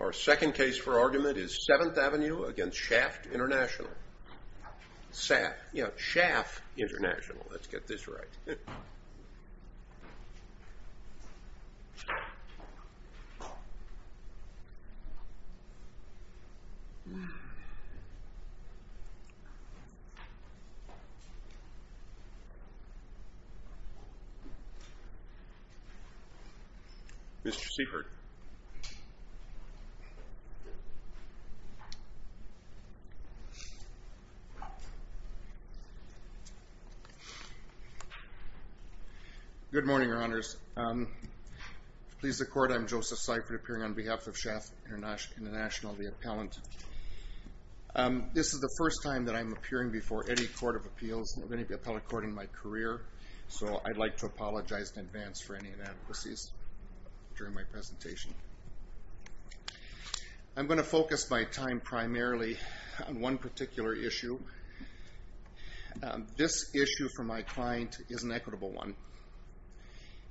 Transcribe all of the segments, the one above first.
Our second case for argument is Seventh Avenue v. Shaft International. Shaft, you know, Shaft International. Let's get this right. Mr. Siefert. Good morning, Your Honors. To please the Court, I'm Joseph Siefert, appearing on behalf of Shaft International, the appellant. This is the first time that I'm appearing before any court of appeals, any appellate court in my career, so I'd like to apologize in advance for any inadequacies during my presentation. I'm going to focus my time primarily on one particular issue. This issue for my client is an equitable one.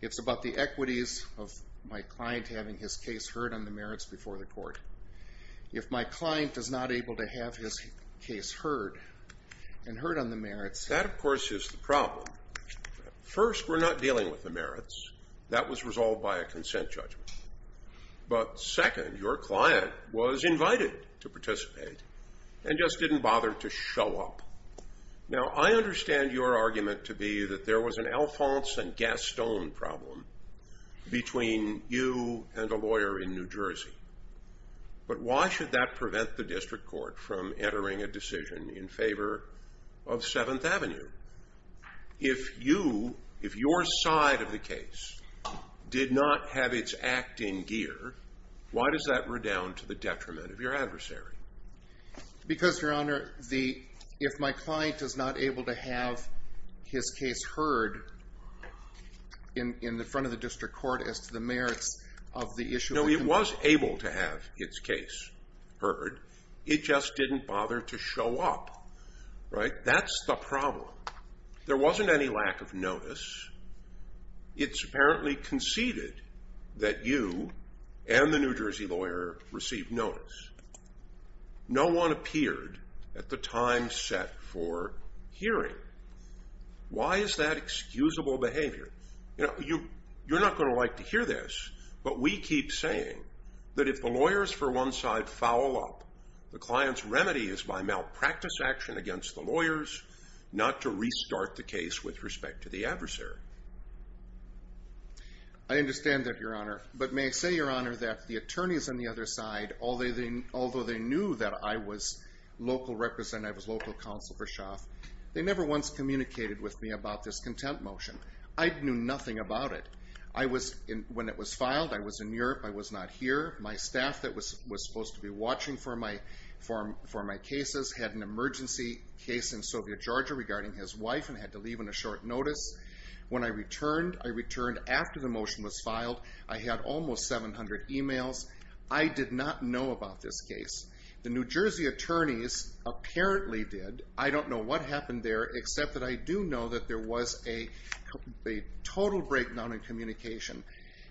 It's about the equities of my client having his case heard on the merits before the court. If my client is not able to have his case heard and heard on the merits... That, of course, is the problem. First, we're not dealing with the merits. That was resolved by a consent judgment. But second, your client was invited to participate and just didn't bother to show up. Now, I understand your argument to be that there was an Alphonse and Gaston problem between you and a lawyer in New Jersey. But why should that prevent the district court from entering a decision in favor of Seventh Avenue? If your side of the case did not have its act in gear, why does that redound to the detriment of your adversary? Because, Your Honor, if my client is not able to have his case heard in the front of the district court as to the merits of the issue... No, it was able to have its case heard. It just didn't bother to show up. That's the problem. There wasn't any lack of notice. It's apparently conceded that you and the New Jersey lawyer received notice. No one appeared at the time set for hearing. Why is that excusable behavior? You're not going to like to hear this, but we keep saying that if the lawyers for one side foul up... ...the client's remedy is by malpractice action against the lawyers, not to restart the case with respect to the adversary. I understand that, Your Honor. But may I say, Your Honor, that the attorneys on the other side... ...although they knew that I was local representative, local counsel for Schaaf... ...they never once communicated with me about this content motion. I knew nothing about it. When it was filed, I was in Europe. I was not here. My staff that was supposed to be watching for my cases... ...had an emergency case in Soviet Georgia regarding his wife and had to leave on a short notice. When I returned, I returned after the motion was filed. I had almost 700 emails. I did not know about this case. The New Jersey attorneys apparently did. I don't know what happened there, except that I do know that there was a total breakdown in communication.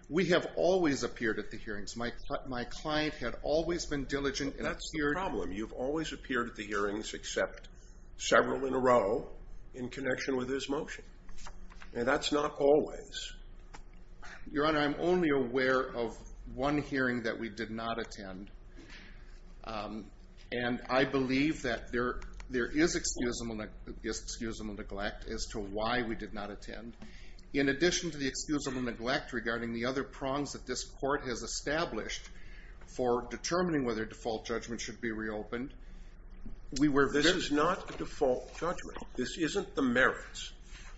We have always appeared at the hearings. My client had always been diligent... That's the problem. You've always appeared at the hearings except several in a row in connection with his motion. That's not always. Your Honor, I'm only aware of one hearing that we did not attend. And I believe that there is excusable neglect as to why we did not attend. In addition to the excusable neglect regarding the other prongs that this court has established... ...for determining whether default judgment should be reopened... This is not a default judgment. This isn't the merits.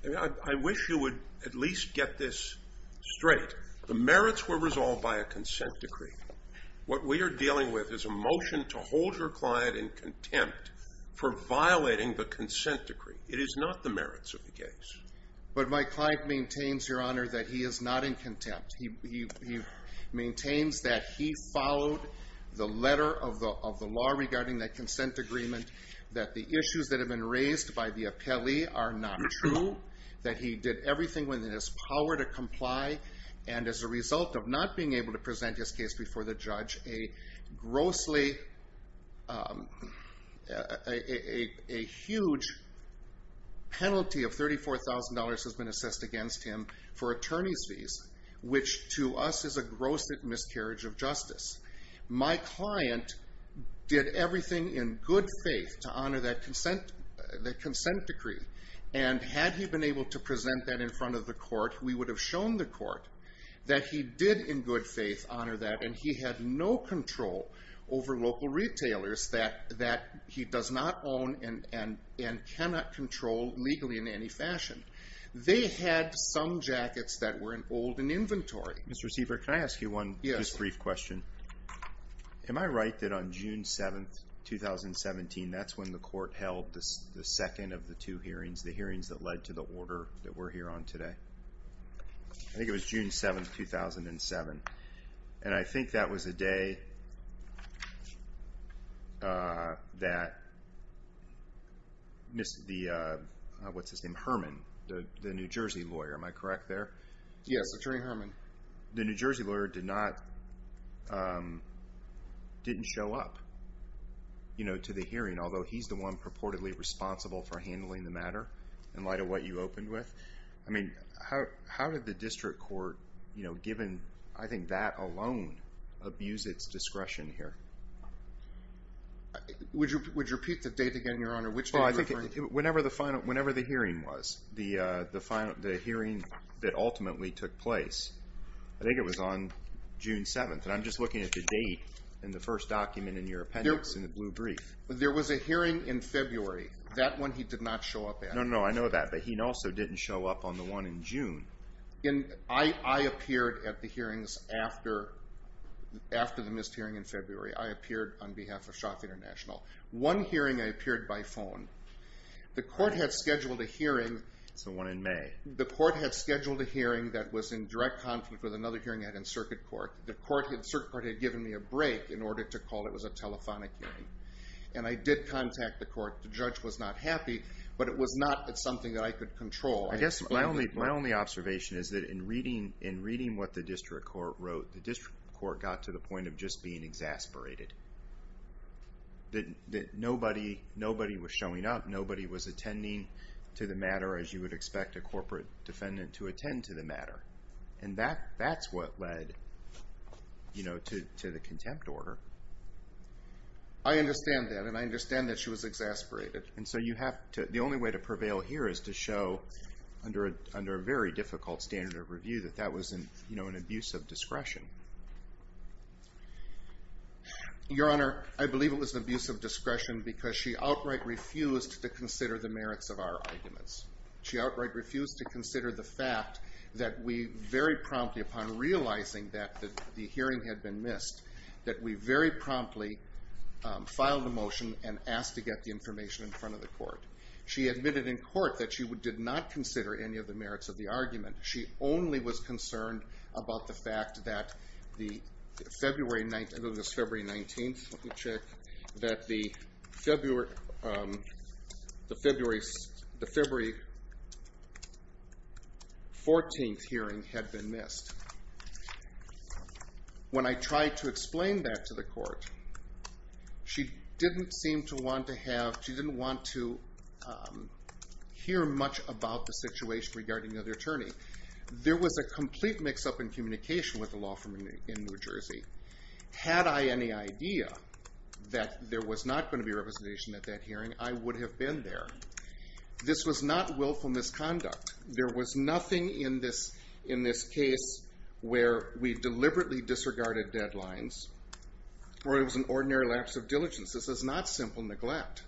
I wish you would at least get this straight. The merits were resolved by a consent decree. What we are dealing with is a motion to hold your client in contempt for violating the consent decree. It is not the merits of the case. But my client maintains, Your Honor, that he is not in contempt. He maintains that he followed the letter of the law regarding that consent agreement. That the issues that have been raised by the appellee are not true. That he did everything within his power to comply. And as a result of not being able to present his case before the judge... ...a grossly, a huge penalty of $34,000 has been assessed against him for attorney's fees. Which to us is a gross miscarriage of justice. My client did everything in good faith to honor that consent decree. And had he been able to present that in front of the court... ...we would have shown the court that he did, in good faith, honor that. And he had no control over local retailers that he does not own and cannot control legally in any fashion. They had some jackets that were in old, in inventory. Mr. Sievert, can I ask you one just brief question? Am I right that on June 7th, 2017, that's when the court held the second of the two hearings? The hearings that led to the order that we're here on today? I think it was June 7th, 2007. And I think that was the day that the, what's his name, Herman, the New Jersey lawyer, am I correct there? Yes, Attorney Herman. The New Jersey lawyer did not, didn't show up, you know, to the hearing. Although he's the one purportedly responsible for handling the matter, in light of what you opened with. I mean, how did the district court, you know, given, I think that alone, abuse its discretion here? Would you repeat the date again, Your Honor, which date you're referring to? Whenever the hearing was, the hearing that ultimately took place, I think it was on June 7th. And I'm just looking at the date in the first document in your appendix, in the blue brief. There was a hearing in February. That one he did not show up at. No, no, no, I know that. But he also didn't show up on the one in June. I appeared at the hearings after the missed hearing in February. I appeared on behalf of Schaaf International. One hearing I appeared by phone. The court had scheduled a hearing. That's the one in May. The court had scheduled a hearing that was in direct conflict with another hearing they had in circuit court. The circuit court had given me a break in order to call it was a telephonic hearing. And I did contact the court. The judge was not happy, but it was not something that I could control. I guess my only observation is that in reading what the district court wrote, the district court got to the point of just being exasperated. That nobody was showing up, nobody was attending to the matter as you would expect a corporate defendant to attend to the matter. And that's what led, you know, to the contempt order. I understand that, and I understand that she was exasperated. And so you have to, the only way to prevail here is to show under a very difficult standard of review that that was an abuse of discretion. Your Honor, I believe it was an abuse of discretion because she outright refused to consider the merits of our arguments. She outright refused to consider the fact that we very promptly upon realizing that the hearing had been missed, that we very promptly filed a motion and asked to get the information in front of the court. She admitted in court that she did not consider any of the merits of the argument. She only was concerned about the fact that the February 19th, let me check, that the February 14th hearing had been missed. When I tried to explain that to the court, she didn't seem to want to have, she didn't want to hear much about the situation regarding the other attorney. There was a complete mix up in communication with the law firm in New Jersey. Had I any idea that there was not going to be representation at that hearing, I would have been there. This was not willful misconduct. There was nothing in this case where we deliberately disregarded deadlines or it was an ordinary lapse of diligence. This is not simple neglect.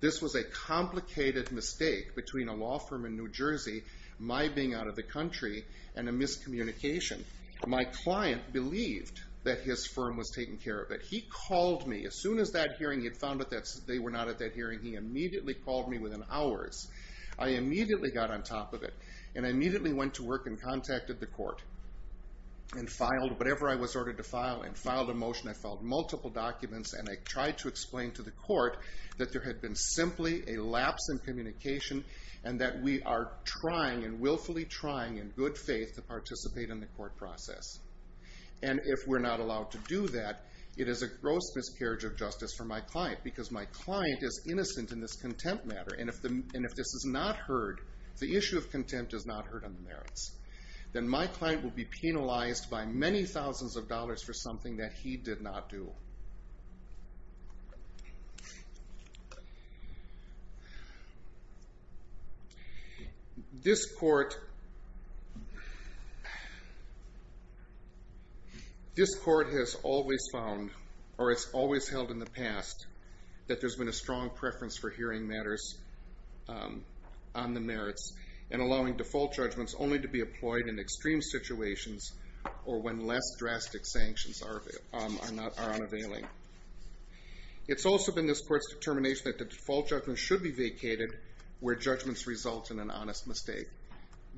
This was a complicated mistake between a law firm in New Jersey, my being out of the country, and a miscommunication. My client believed that his firm was taking care of it. He called me as soon as that hearing, he had found out that they were not at that hearing, he immediately called me within hours. I immediately got on top of it and I immediately went to work and contacted the court and filed whatever I was ordered to file and filed a motion. I filed multiple documents and I tried to explain to the court that there had been simply a lapse in communication and that we are trying and willfully trying in good faith to participate in the court process. And if we're not allowed to do that, it is a gross miscarriage of justice for my client because my client is innocent in this contempt matter. If this is not heard, if the issue of contempt is not heard on the merits, then my client will be penalized by many thousands of dollars for something that he did not do. This court has always found, or has always held in the past, that there has been a strong preference for hearing matters on the merits and allowing default judgments only to be employed in extreme situations or when less drastic sanctions are unavailing. It's also been this court's determination that the default judgment should be vacated where judgments result in an honest mistake.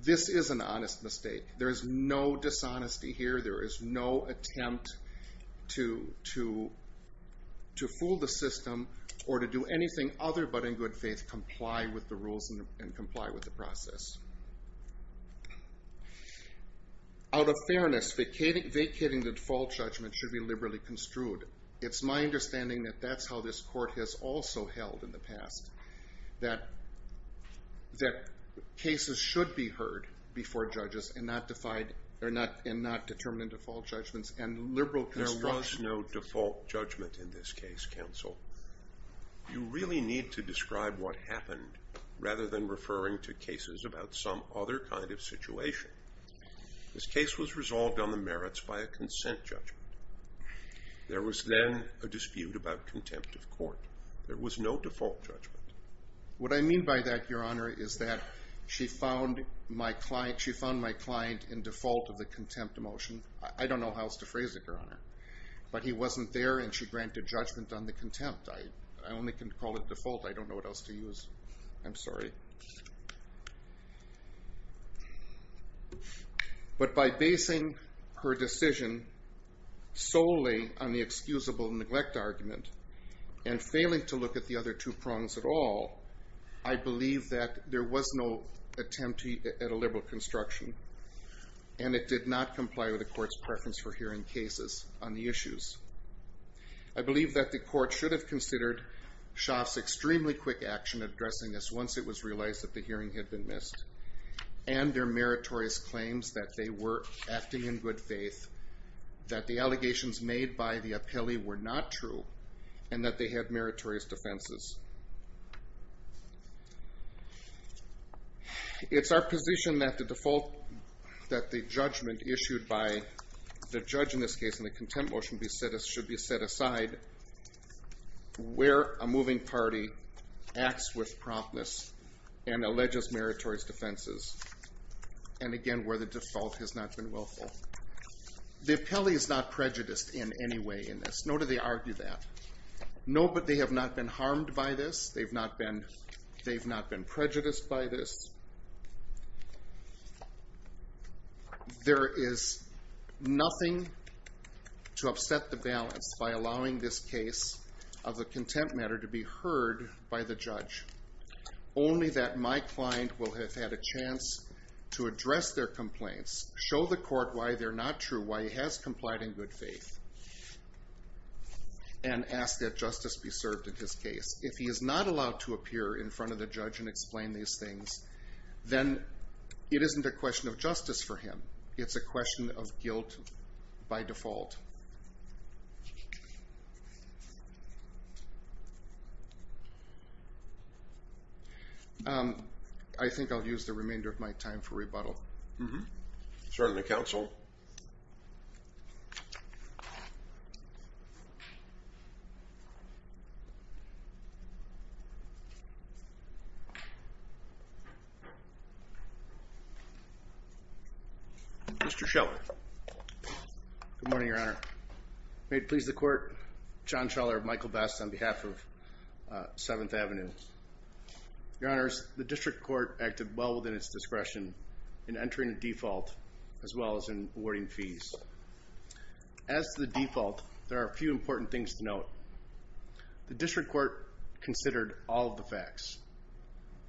This is an honest mistake. There is no dishonesty here, there is no attempt to fool the system or to do anything other but in good faith comply with the rules and comply with the process. Out of fairness, vacating the default judgment should be liberally construed. It's my understanding that that's how this court has also held in the past. That cases should be heard before judges and not determined in default judgments. There was no default judgment in this case, counsel. You really need to describe what happened rather than referring to cases about some other kind of situation. This case was resolved on the merits by a consent judgment. There was then a dispute about contempt of court. There was no default judgment. What I mean by that, your honor, is that she found my client in default of the contempt motion. I don't know how else to phrase it, your honor. But he wasn't there and she granted judgment on the contempt. I only can call it default, I don't know what else to use. I'm sorry. But by basing her decision solely on the excusable neglect argument and failing to look at the other two prongs at all, I believe that there was no attempt at a liberal construction and it did not comply with the court's preference for hearing cases on the issues. I believe that the court should have considered Schaaf's extremely quick action addressing this once it was realized that the hearing had been missed and their meritorious claims that they were acting in good faith, that the allegations made by the appellee were not true, and that they had meritorious defenses. It's our position that the judgment issued by the judge in this case and the contempt motion should be set aside where a moving party acts with promptness and alleges meritorious defenses, and again, where the default has not been willful. The appellee is not prejudiced in any way in this. Nor do they argue that. No, but they have not been harmed by this. They've not been prejudiced by this. There is nothing to upset the balance by allowing this case of the contempt matter to be heard by the judge. Only that my client will have had a chance to address their complaints, show the court why they're not true, why he has complied in good faith, and ask that justice be served in his case. If he is not allowed to appear in front of the judge and explain these things, then it isn't a question of justice for him. It's a question of guilt by default. I think I'll use the remainder of my time for rebuttal. Mm-hmm. Sir, the counsel. Mr. Scheller. Good morning, Your Honor. May it please the court, John Scheller of Michael Best on behalf of Seventh Avenue. Your Honors, the district court acted well within its discretion in entering a default as well as in awarding fees. As to the default, there are a few important things to note. The district court considered all of the facts.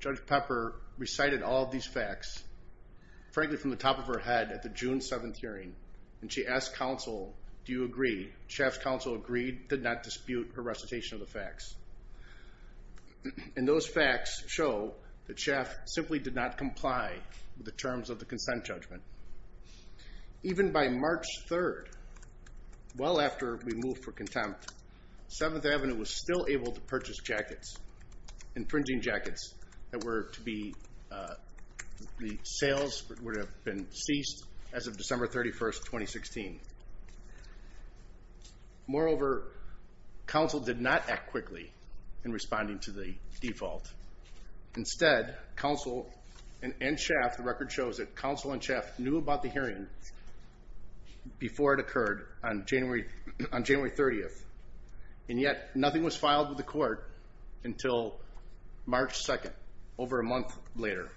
Judge Pepper recited all of these facts, frankly, from the top of her head at the June 7th hearing, and she asked counsel, do you agree? Schaff's counsel agreed, did not dispute her recitation of the facts. And those facts show that Schaff simply did not comply with the terms of the consent judgment. Even by March 3rd, well after we moved for contempt, Seventh Avenue was still able to purchase jackets, infringing jackets, that were to be, the sales would have been ceased as of December 31st, 2016. Moreover, counsel did not act quickly in responding to the default. Instead, counsel and Schaff, the record shows that counsel and Schaff knew about the hearing before it occurred on January 30th. And yet, nothing was filed with the court until March 2nd, over a month later.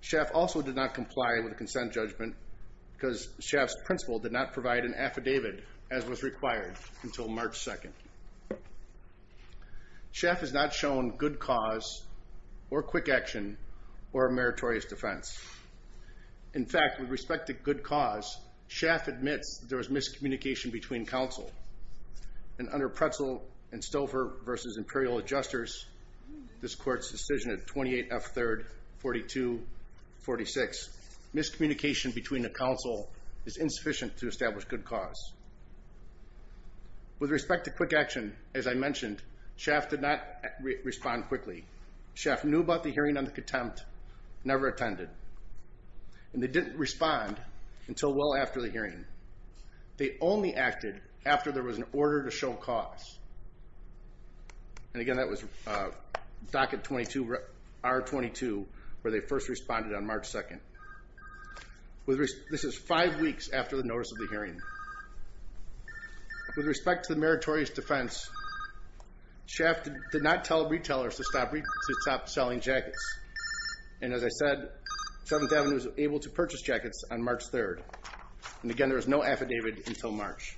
Schaff also did not comply with the consent judgment because Schaff's principal did not provide an affidavit as was required until March 2nd. Schaff has not shown good cause, or quick action, or a meritorious defense. In fact, with respect to good cause, Schaff admits there was miscommunication between counsel. And under Pretzel and Stover v. Imperial Adjusters, this court's decision at 28F3-4246, miscommunication between a counsel is insufficient to establish good cause. With respect to quick action, as I mentioned, Schaff did not respond quickly. Schaff knew about the hearing on contempt, never attended. And they didn't respond until well after the hearing. They only acted after there was an order to show cause. And again, that was Docket 22, R22, where they first responded on March 2nd. This is five weeks after the notice of the hearing. With respect to the meritorious defense, Schaff did not tell retailers to stop selling jackets. And as I said, 7th Avenue was able to purchase jackets on March 3rd. And again, there was no affidavit until March.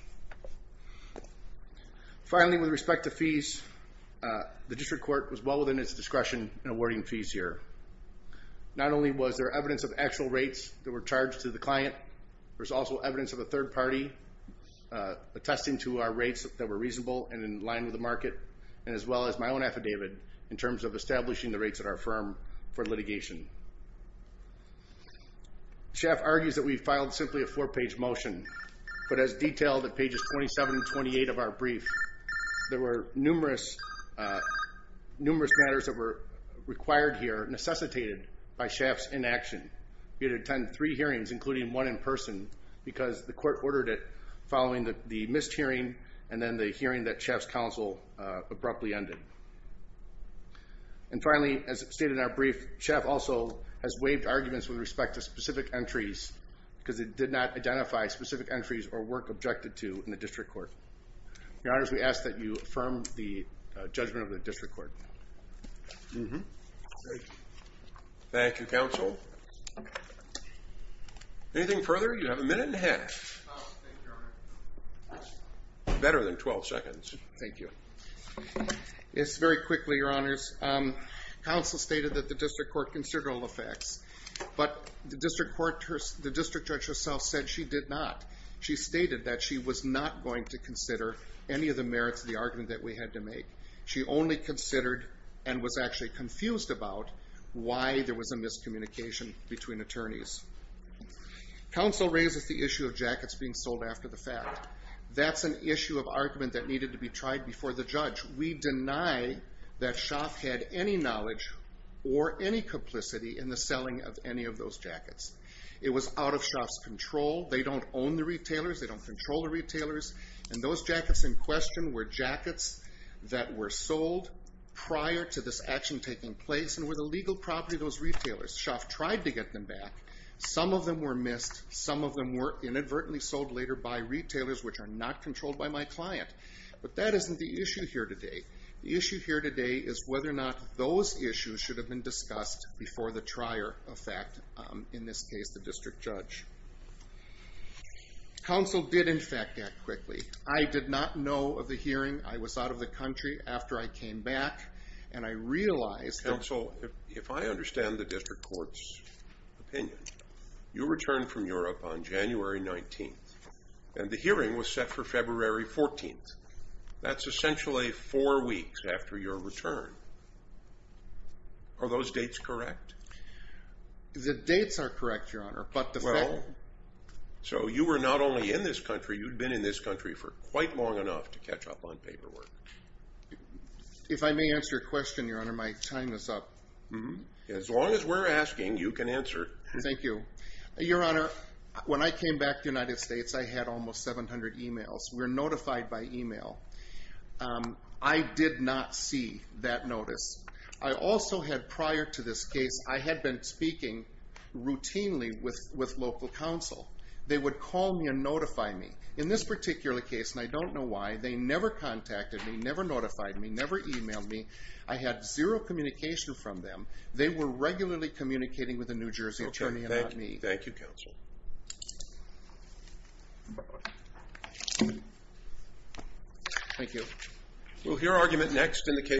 Finally, with respect to fees, the district court was well within its discretion in awarding fees here. Not only was there evidence of actual rates that were charged to the client, there was also evidence of a third party attesting to our rates that were reasonable and in line with the market, and as well as my own affidavit in terms of establishing the rates at our firm for litigation. Schaff argues that we filed simply a four-page motion, but as detailed at pages 27 and 28 of our brief, there were numerous matters that were required here, necessitated by Schaff's inaction. We had to attend three hearings, including one in person, because the court ordered it following the missed hearing and then the hearing that Schaff's counsel abruptly ended. And finally, as stated in our brief, Schaff also has waived arguments with respect to specific entries, because it did not identify specific entries or work objected to in the district court. Your Honor, we ask that you affirm the judgment of the district court. Thank you, counsel. Anything further? You have a minute and a half. Better than 12 seconds. Thank you. It's very quickly, Your Honors. Counsel stated that the district court considered all the facts, but the district judge herself said she did not. She stated that she was not going to consider any of the merits of the argument that we had to make. She only considered and was actually confused about why there was a miscommunication between attorneys. Counsel raises the issue of jackets being sold after the fact. That's an issue of argument that needed to be tried before the judge. We deny that Schaff had any knowledge or any complicity in the selling of any of those jackets. It was out of Schaff's control. They don't own the retailers. They don't control the retailers. And those jackets in question were jackets that were sold prior to this action taking place and were the legal property of those retailers. Schaff tried to get them back. Some of them were missed. Some of them were inadvertently sold later by retailers, which are not controlled by my client. But that isn't the issue here today. The issue here today is whether or not those issues should have been discussed before the trier of fact, in this case the district judge. Counsel did, in fact, act quickly. I did not know of the hearing. I was out of the country after I came back, and I realized that Counsel, if I understand the district court's opinion, you returned from Europe on January 19th, and the hearing was set for February 14th. That's essentially four weeks after your return. Are those dates correct? The dates are correct, Your Honor, but the fact... Well, so you were not only in this country. You'd been in this country for quite long enough to catch up on paperwork. If I may answer a question, Your Honor, my time is up. As long as we're asking, you can answer. Thank you. Your Honor, when I came back to the United States, I had almost 700 emails. We're notified by email. I did not see that notice. I also had, prior to this case, I had been speaking routinely with local counsel. They would call me and notify me. In this particular case, and I don't know why, they never contacted me, never notified me, never emailed me. I had zero communication from them. They were regularly communicating with a New Jersey attorney and not me. Thank you, Counsel. Thank you.